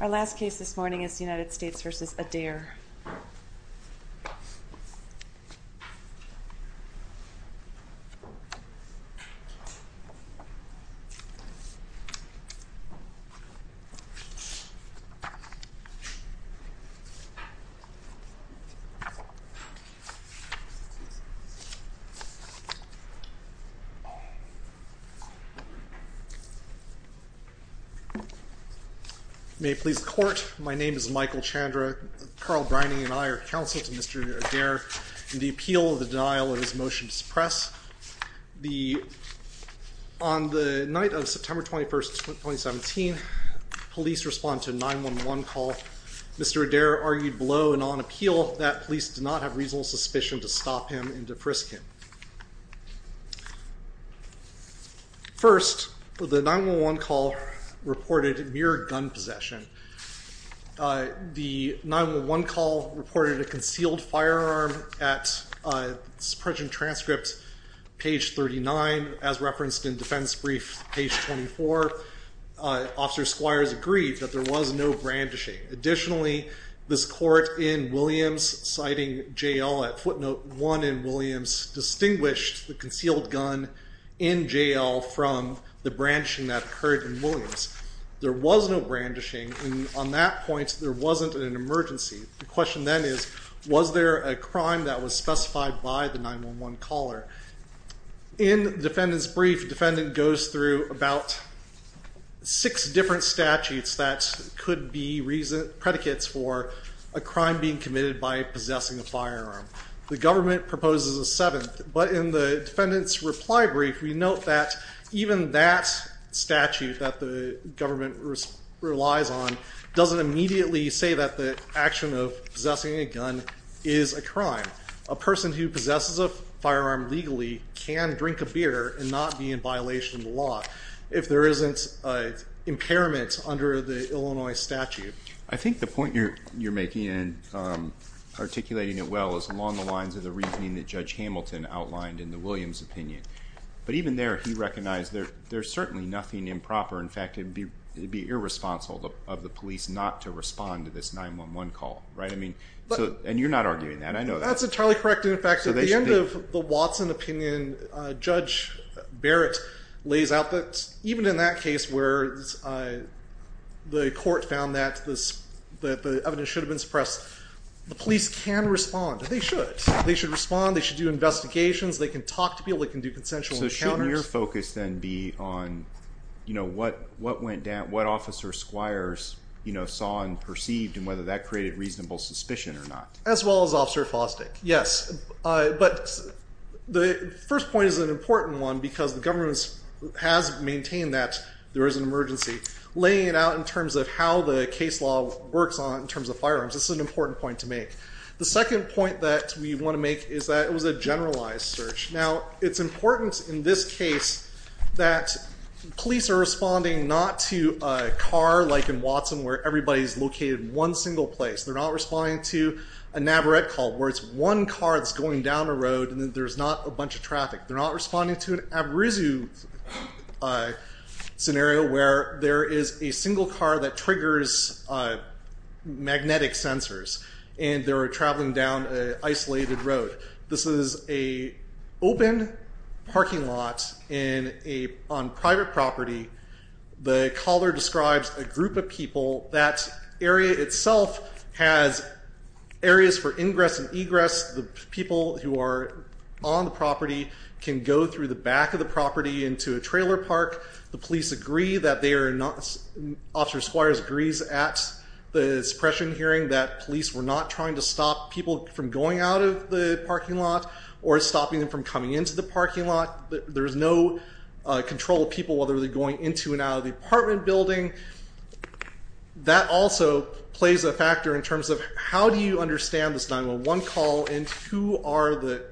Our last case this morning is United States v. Adair. May it please the Court, my name is Michael Chandra, Carl Briney and I are counsel to Mr. Adair in the appeal of the denial of his motion to suppress. On the night of September 21, 2017, police responded to a 911 call. Mr. Adair argued below and on appeal that police did not have reasonable suspicion to First, the 911 call reported mere gun possession. The 911 call reported a concealed firearm at present transcript page 39 as referenced in defense brief page 24. Officer Squires agreed that there was no brandishing. Additionally, this court in Williams, citing J.L. at footnote 1 in Williams, distinguished the concealed gun in J.L. from the brandishing that occurred in Williams. There was no brandishing and on that point there wasn't an emergency. The question then is, was there a crime that was specified by the 911 caller? In defendant's brief, defendant goes through about six different statutes that could be reason, predicates for a crime being committed by possessing a firearm. The government proposes a seventh, but in the defendant's reply brief, we note that even that statute that the government relies on doesn't immediately say that the action of possessing a gun is a crime. A person who possesses a firearm legally can drink a beer and not be in violation of the law if there isn't an impairment under the Illinois statute. I think the point you're making and articulating it well is along the lines of the reasoning that Judge Hamilton outlined in the Williams opinion. But even there, he recognized there's certainly nothing improper. In fact, it would be irresponsible of the police not to respond to this 911 call, right? And you're not arguing that. I know that. That's entirely correct. In fact, at the end of the Watson opinion, Judge Barrett lays out that even in that case where the court found that the evidence should have been suppressed, the police can respond. They should. They should respond. They should do investigations. They can talk to people. They can do consensual encounters. So shouldn't your focus then be on what went down, what officer squires saw and perceived and whether that created reasonable suspicion or not? As well as Officer Fostick, yes. But the first point is an important one because the government has maintained that there is an emergency. Laying it out in terms of how the case law works in terms of firearms, this is an important point to make. The second point that we want to make is that it was a generalized search. Now it's important in this case that police are responding not to a car like in Watson where everybody's located in one single place. They're not responding to a Navarette call where it's one car that's going down a road and then there's not a bunch of traffic. They're not responding to an Abrezu scenario where there is a single car that triggers magnetic sensors and they're traveling down an isolated road. This is an open parking lot on private property. The caller describes a group of people. That area itself has areas for ingress and egress. The people who are on the property can go through the back of the property into a trailer park. The police agree that they are not, Officer Squires agrees at the suppression hearing that police were not trying to stop people from going out of the parking lot or stopping them from coming into the parking lot. There's no control of people whether they're going into and out of the apartment building. That also plays a factor in terms of how do you understand this 911 call and who are the,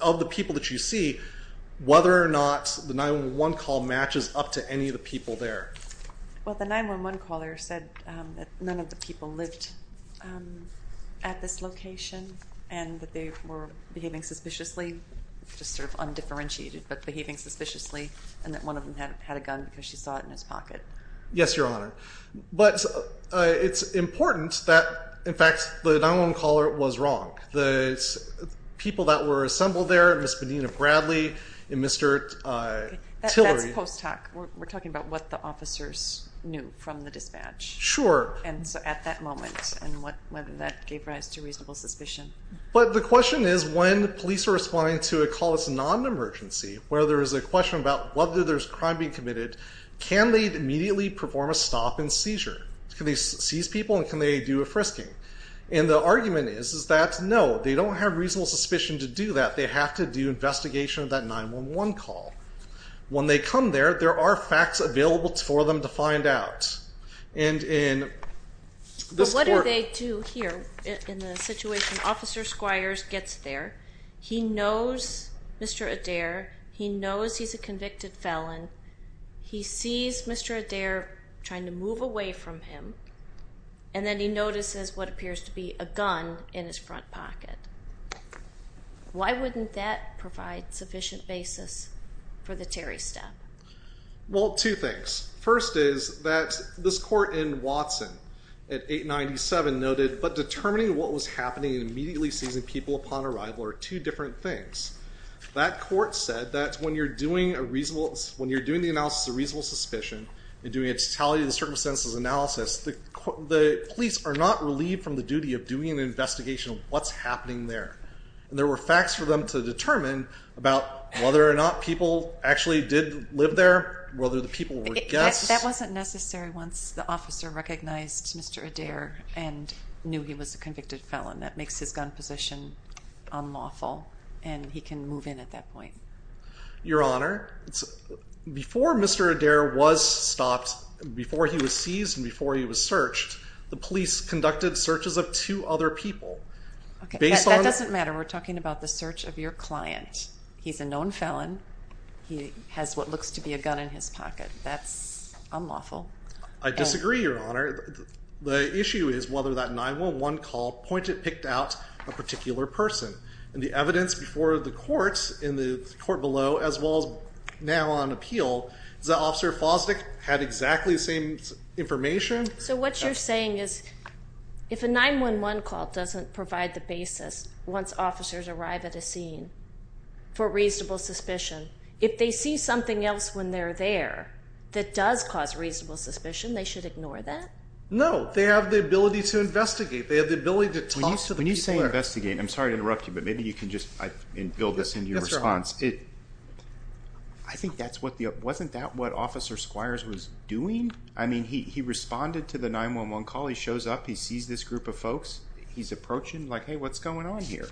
of the people that you see, whether or not the 911 call matches up to any of the people there. Well the 911 caller said that none of the people lived at this location and that they were behaving suspiciously, just sort of undifferentiated, but behaving suspiciously and that one of them had a gun because she saw it in his pocket. Yes, Your Honor. But it's important that, in fact, the 911 caller was wrong. The people that were assembled there, Ms. Medina Bradley and Mr. Tillery. That's post-talk. We're talking about what the officers knew from the dispatch. Sure. And so at that moment and whether that gave rise to reasonable suspicion. But the question is when police are responding to a call that's non-emergency, where there is a question about whether there's crime being committed, can they immediately perform a stop and seizure? Can they seize people and can they do a frisking? And the argument is that no, they don't have reasonable suspicion to do that. They have to do investigation of that 911 call. When they come there, there are facts available for them to find out. But what do they do here in the situation? Officer Squires gets there. He knows Mr. Adair. He knows he's a convicted felon. He sees Mr. Adair trying to move away from him and then he notices what appears to be a gun in his front pocket. Why wouldn't that provide sufficient basis for the Terry step? Well, two things. First is that this court in Watson at 897 noted, but determining what was happening and immediately seizing people upon arrival are two different things. That court said that when you're doing the analysis of reasonable suspicion and doing a totality of the circumstances analysis, the police are not relieved from the duty of doing an investigation of what's happening there. There were facts for them to determine about whether or not people actually did live there, whether the people were guests. That wasn't necessary once the officer recognized Mr. Adair and knew he was a convicted felon. That makes his gun position unlawful and he can move in at that point. Your Honor, before Mr. Adair was stopped, before he was seized and before he was searched, the police conducted searches of two other people. That doesn't matter. We're talking about the search of your client. He's a known felon. He has what looks to be a gun in his pocket. That's unlawful. I disagree, Your Honor. The issue is whether that 911 call pointed, picked out a particular person. The evidence before the courts in the court below, as well as now on appeal, is that Officer Fosdick had exactly the same information? So what you're saying is if a 911 call doesn't provide the basis once officers arrive at a scene for reasonable suspicion, if they see something else when they're there that does cause reasonable suspicion, they should ignore that? No. They have the ability to investigate. They have the ability to talk to the people there. When you say investigate, I'm sorry to interrupt you, but maybe you can just, and build this into your response. I think that's what the, wasn't that what Officer Squires was doing? I mean, he responded to the 911 call. He shows up. He sees this group of folks. He's approaching, like, hey, what's going on here?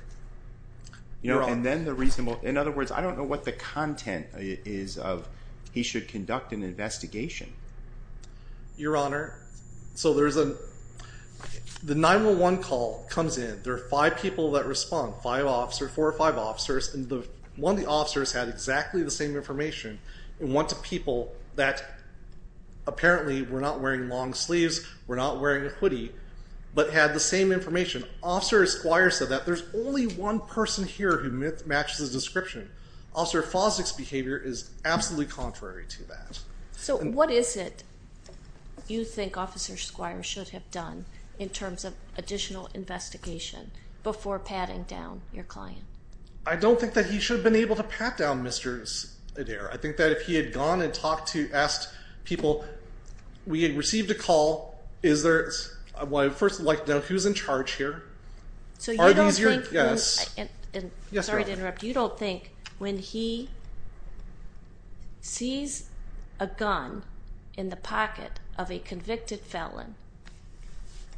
And then the reasonable, in other words, I don't know what the content is of he should conduct an investigation. Your Honor, so there's a, the 911 call comes in. There are five people that respond, five officers, four or five officers, and one of the officers had exactly the same information, and went to people that apparently were not wearing long sleeves, were not wearing a hoodie, but had the same information. Officer Squires said that. There's only one person here who matches his description. Officer Fosdick's behavior is absolutely contrary to that. So what is it you think Officer Squires should have done in terms of additional investigation before patting down your client? I don't think that he should have been able to pat down Mr. Adair. I think that if he had gone and talked to, asked people, we had received a call. Is there, well, first, like, who's in charge here? So you don't think, and sorry to interrupt, you don't think when he sees a gun in the pocket of a convicted felon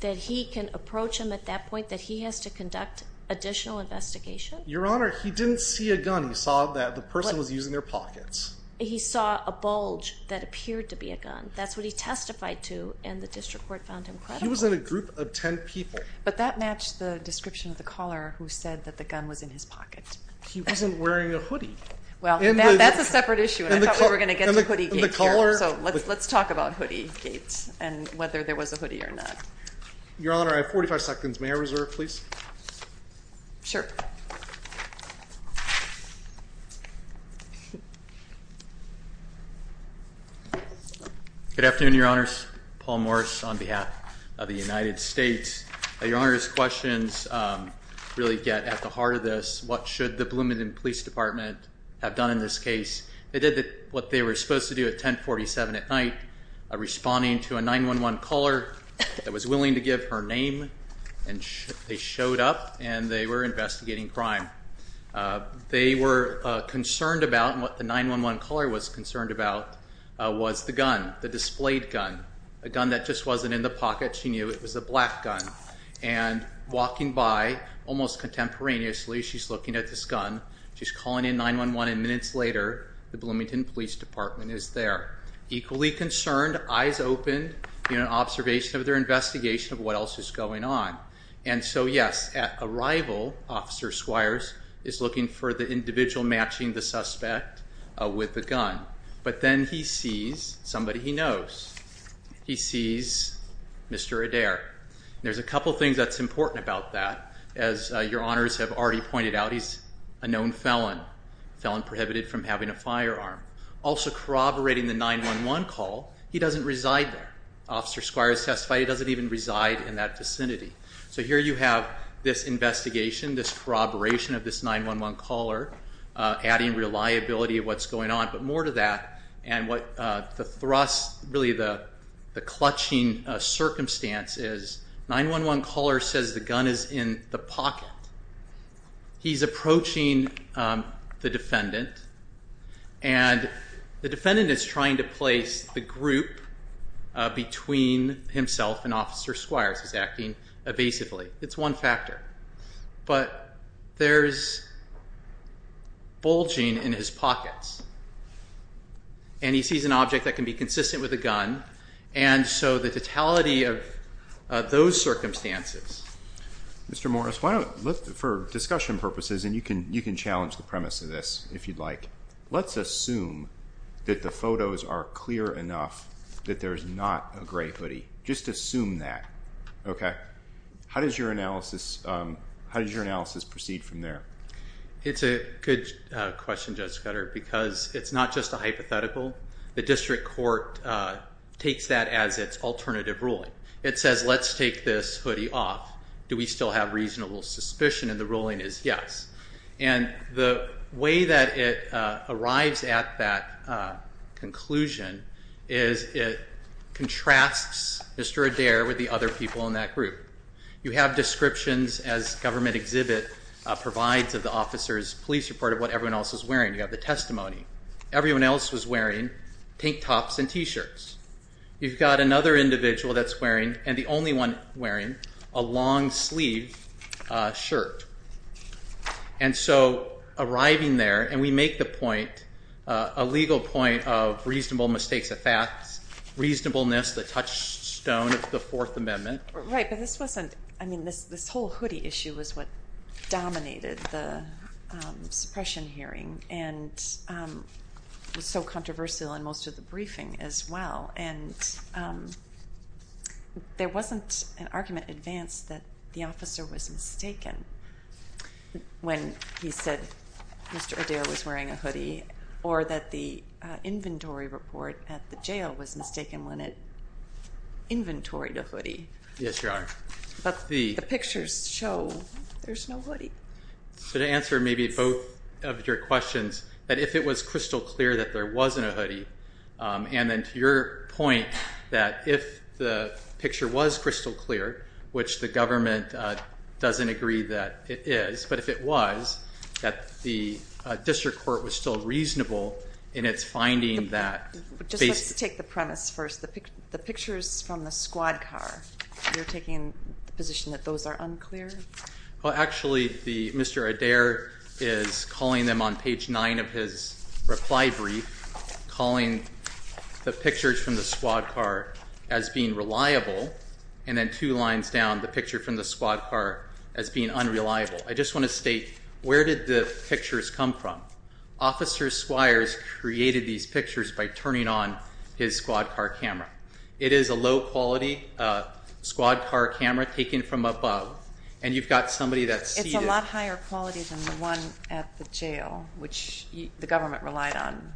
that he can approach him at that point, that he has to conduct additional investigation? Your Honor, he didn't see a gun. He saw that the person was using their pockets. He saw a bulge that appeared to be a gun. That's what he testified to, and the district court found him credible. He was in a group of 10 people. But that matched the description of the caller who said that the gun was in his pocket. He wasn't wearing a hoodie. Well, that's a separate issue, and I thought we were going to get to Hoodiegate here. So let's talk about Hoodiegate, and whether there was a hoodie or not. Your Honor, I have 45 seconds. May I reserve, please? Sure. Good afternoon, Your Honors. Paul Morse on behalf of the United States. Your Honor's questions really get at the heart of this. What should the Bloomington Police Department have done in this case? They did what they were supposed to do at 1047 at night, responding to a 911 caller that was willing to give her name, and they showed up. And they were investigating crime. They were concerned about, and what the 911 caller was concerned about, was the gun. The displayed gun. A gun that just wasn't in the pocket. She knew it was a black gun. And walking by, almost contemporaneously, she's looking at this gun. She's calling in 911, and minutes later, the Bloomington Police Department is there. Equally concerned, eyes open, in an observation of their investigation of what else is going on. And so, yes, at arrival, Officer Squires is looking for the individual matching the suspect with the gun. But then he sees somebody he knows. He sees Mr. Adair. There's a couple things that's important about that. As Your Honors have already pointed out, he's a known felon, a felon prohibited from having a firearm. Also corroborating the 911 call, he doesn't reside there. Officer Squires testified he doesn't even reside in that vicinity. So here you have this investigation, this corroboration of this 911 caller, adding reliability of what's going on. But more to that, and what the thrust, really the clutching circumstance is, 911 caller says the gun is in the pocket. He's approaching the defendant. And the defendant is trying to place the group between himself and Officer Squires. He's acting evasively. It's one factor. But there's bulging in his pockets. And he sees an object that can be consistent with a gun. And so the totality of those circumstances. Mr. Morris, for discussion purposes, and you can challenge the premise of this if you'd like, let's assume that the photos are clear enough that there's not a gray hoodie. Just assume that. How does your analysis proceed from there? It's a good question, Judge Scudder, because it's not just a hypothetical. The district court takes that as its alternative ruling. It says, let's take this hoodie off. Do we still have reasonable suspicion? And the ruling is yes. And the way that it arrives at that conclusion is it contrasts Mr. Adair with the other people in that group. You have descriptions as government exhibit provides of the officer's police report of what everyone else is wearing. You have the testimony. Everyone else was wearing tank tops and t-shirts. You've got another individual that's wearing, and the only one wearing, a long-sleeved shirt. And so arriving there, and we make the point, a legal point of reasonable mistakes of facts, reasonableness, the touchstone of the Fourth Amendment. Right. But this wasn't, I mean, this whole hoodie issue is what dominated the suppression hearing and was so controversial in most of the briefing as well. And there wasn't an argument advanced that the officer was mistaken when he said Mr. Adair was wearing a hoodie, or that the inventory report at the jail was mistaken when it inventoried a hoodie. Yes, Your Honor. But the pictures show there's no hoodie. So to answer maybe both of your questions, that if it was crystal clear that there wasn't a hoodie, and then to your point, that if the picture was crystal clear, which the government doesn't agree that it is, but if it was, that the district court was still reasonable in its finding that... Just let's take the premise first. The pictures from the squad car, you're taking the position that those are unclear? Well, actually, Mr. Adair is calling them on page nine of his reply brief, calling the pictures from the squad car as being reliable, and then two lines down, the picture from the squad car as being unreliable. I just want to state, where did the pictures come from? Officer Squires created these pictures by turning on his squad car camera. It is a low-quality squad car camera taken from above, and you've got somebody that's seated... It's a lot higher quality than the one at the jail, which the government relied on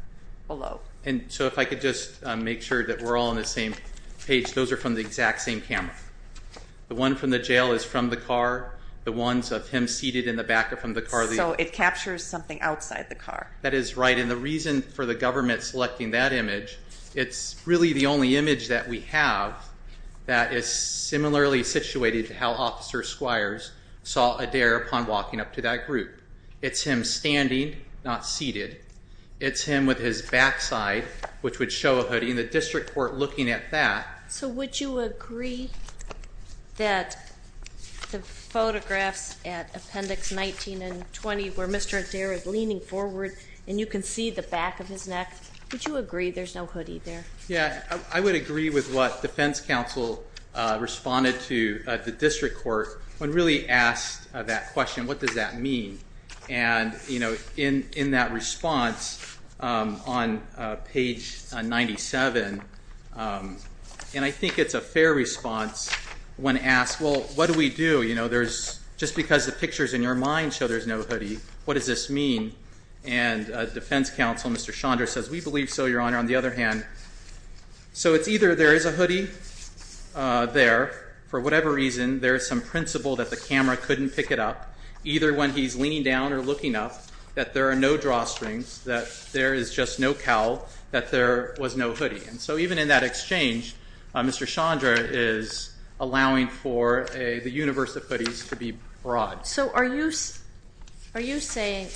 below. And so if I could just make sure that we're all on the same page, those are from the exact same camera. The one from the jail is from the car. The ones of him seated in the back are from the car. So it captures something outside the car. That is right, and the reason for the government selecting that image, it's really the only image that we have that is similarly situated to how Officer Squires saw Adair upon walking up to that group. It's him standing, not seated. It's him with his backside, which would show a hoodie, and the district court looking at that... So would you agree that the photographs at Appendix 19 and 20 where Mr. Adair is leaning forward and you can see the back of his neck, would you agree there's no hoodie there? Yeah, I would agree with what defense counsel responded to at the district court when really asked that question, what does that mean? And in that response on page 97, and I think it's a fair response when asked, well, what do we do? There's... Just because the pictures in your mind show there's no hoodie, what does this mean? And defense counsel, Mr. Chandra says, we believe so, Your Honor. On the other hand, so it's either there is a hoodie there for whatever reason, there is some principle that the camera couldn't pick it up, either when he's leaning down or looking up, that there are no drawstrings, that there is just no cowl, that there was no hoodie. And so even in that exchange, Mr. Chandra is allowing for the universe of hoodies to be broad. So are you saying...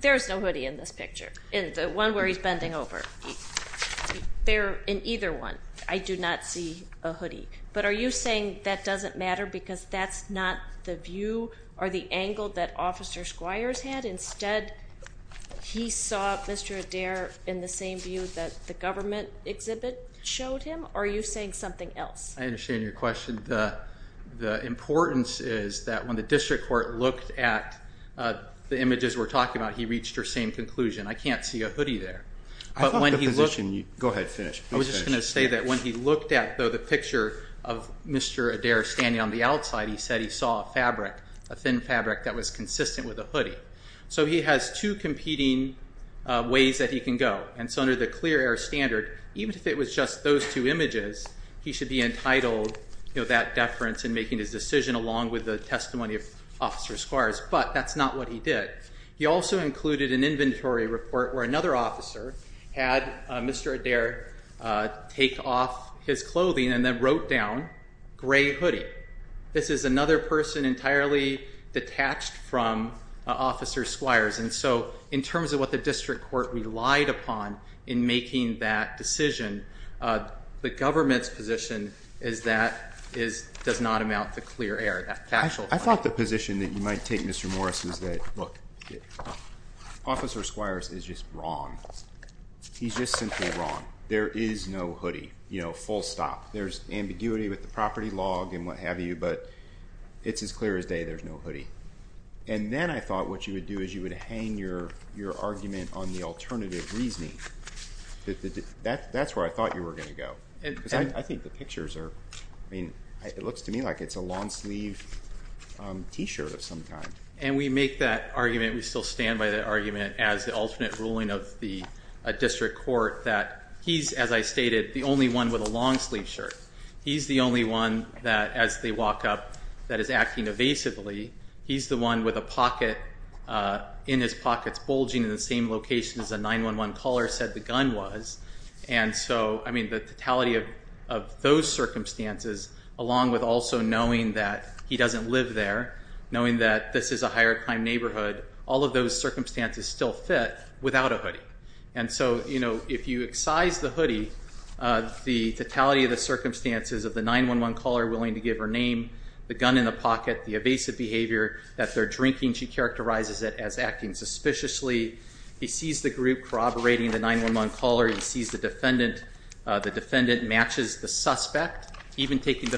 There's no hoodie in this picture, in the one where he's bending over. There in either one, I do not see a hoodie. But are you saying that doesn't matter because that's not the view or the angle that Officer Squires had, instead, he saw Mr. Adair in the same view that the government exhibit showed him? Or are you saying something else? I understand your question. The importance is that when the district court looked at the images we're talking about, he reached her same conclusion. I can't see a hoodie there. I thought the position... Go ahead, finish. I was just going to say that when he looked at the picture of Mr. Adair standing on the outside, he said he saw a fabric, a thin fabric that was consistent with a hoodie. So he has two competing ways that he can go. And so under the clear air standard, even if it was just those two images, he should be entitled to that deference in making his decision along with the testimony of Officer Squires. But that's not what he did. He also included an inventory report where another officer had Mr. Adair take off his clothing and then wrote down, gray hoodie. This is another person entirely detached from Officer Squires. And so in terms of what the district court relied upon in making that decision, the government's position is that it does not amount to clear air, that factual point. I thought the position that you might take, Mr. Morris, is that, look, Officer Squires is just wrong. He's just simply wrong. There is no hoodie, you know, full stop. There's ambiguity with the property log and what have you, but it's as clear as day there's no hoodie. And then I thought what you would do is you would hang your argument on the alternative reasoning. That's where I thought you were going to go. I think the pictures are, I mean, it looks to me like it's a long sleeve t-shirt of some kind. And we make that argument, we still stand by that argument as the alternate ruling of the district court that he's, as I stated, the only one with a long sleeve shirt. He's the only one that, as they walk up, that is acting evasively. He's the one with a pocket, in his pockets, bulging in the same location as a 911 caller said the gun was. And so, I mean, the totality of those circumstances, along with also knowing that he doesn't live there, knowing that this is a higher crime neighborhood, all of those circumstances still fit without a hoodie. And so, you know, if you excise the hoodie, the totality of the circumstances of the 911 caller willing to give her name, the gun in the pocket, the evasive behavior, that they're drinking, she characterizes it as acting suspiciously. He sees the group corroborating the 911 caller, he sees the defendant, the defendant matches the suspect, even taking the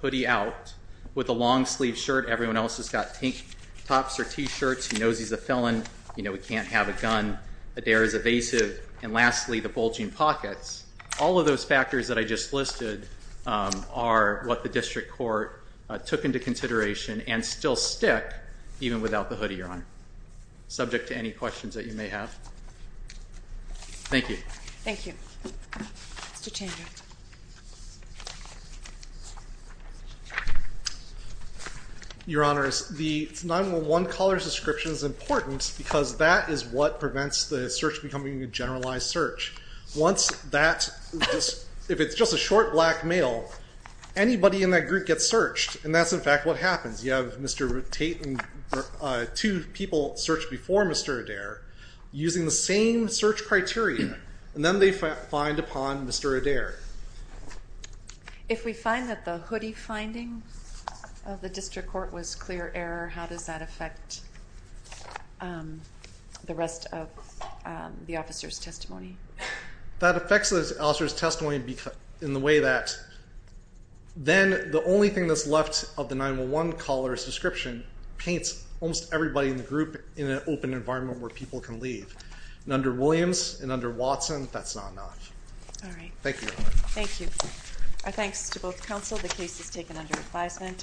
hoodie out with a long sleeve shirt, everyone else has got pink tops or t-shirts, he knows he's a felon, you know, he can't have a gun, a dare is evasive. And lastly, the bulging pockets. All of those factors that I just listed are what the district court took into consideration subject to any questions that you may have. Thank you. Thank you. Mr. Changer. Your Honors, the 911 caller's description is important because that is what prevents the search becoming a generalized search. Once that, if it's just a short black male, anybody in that group gets searched, and that's in fact what happens. You have Mr. Tate and two people searched before Mr. Adair using the same search criteria, and then they find upon Mr. Adair. If we find that the hoodie finding of the district court was clear error, how does that affect the rest of the officer's testimony? That affects the officer's testimony in the way that then the only thing that's left of the 911 caller's description paints almost everybody in the group in an open environment where people can leave. And under Williams and under Watson, that's not enough. All right. Thank you, Your Honor. Thank you. Our thanks to both counsel. The case is taken under advisement.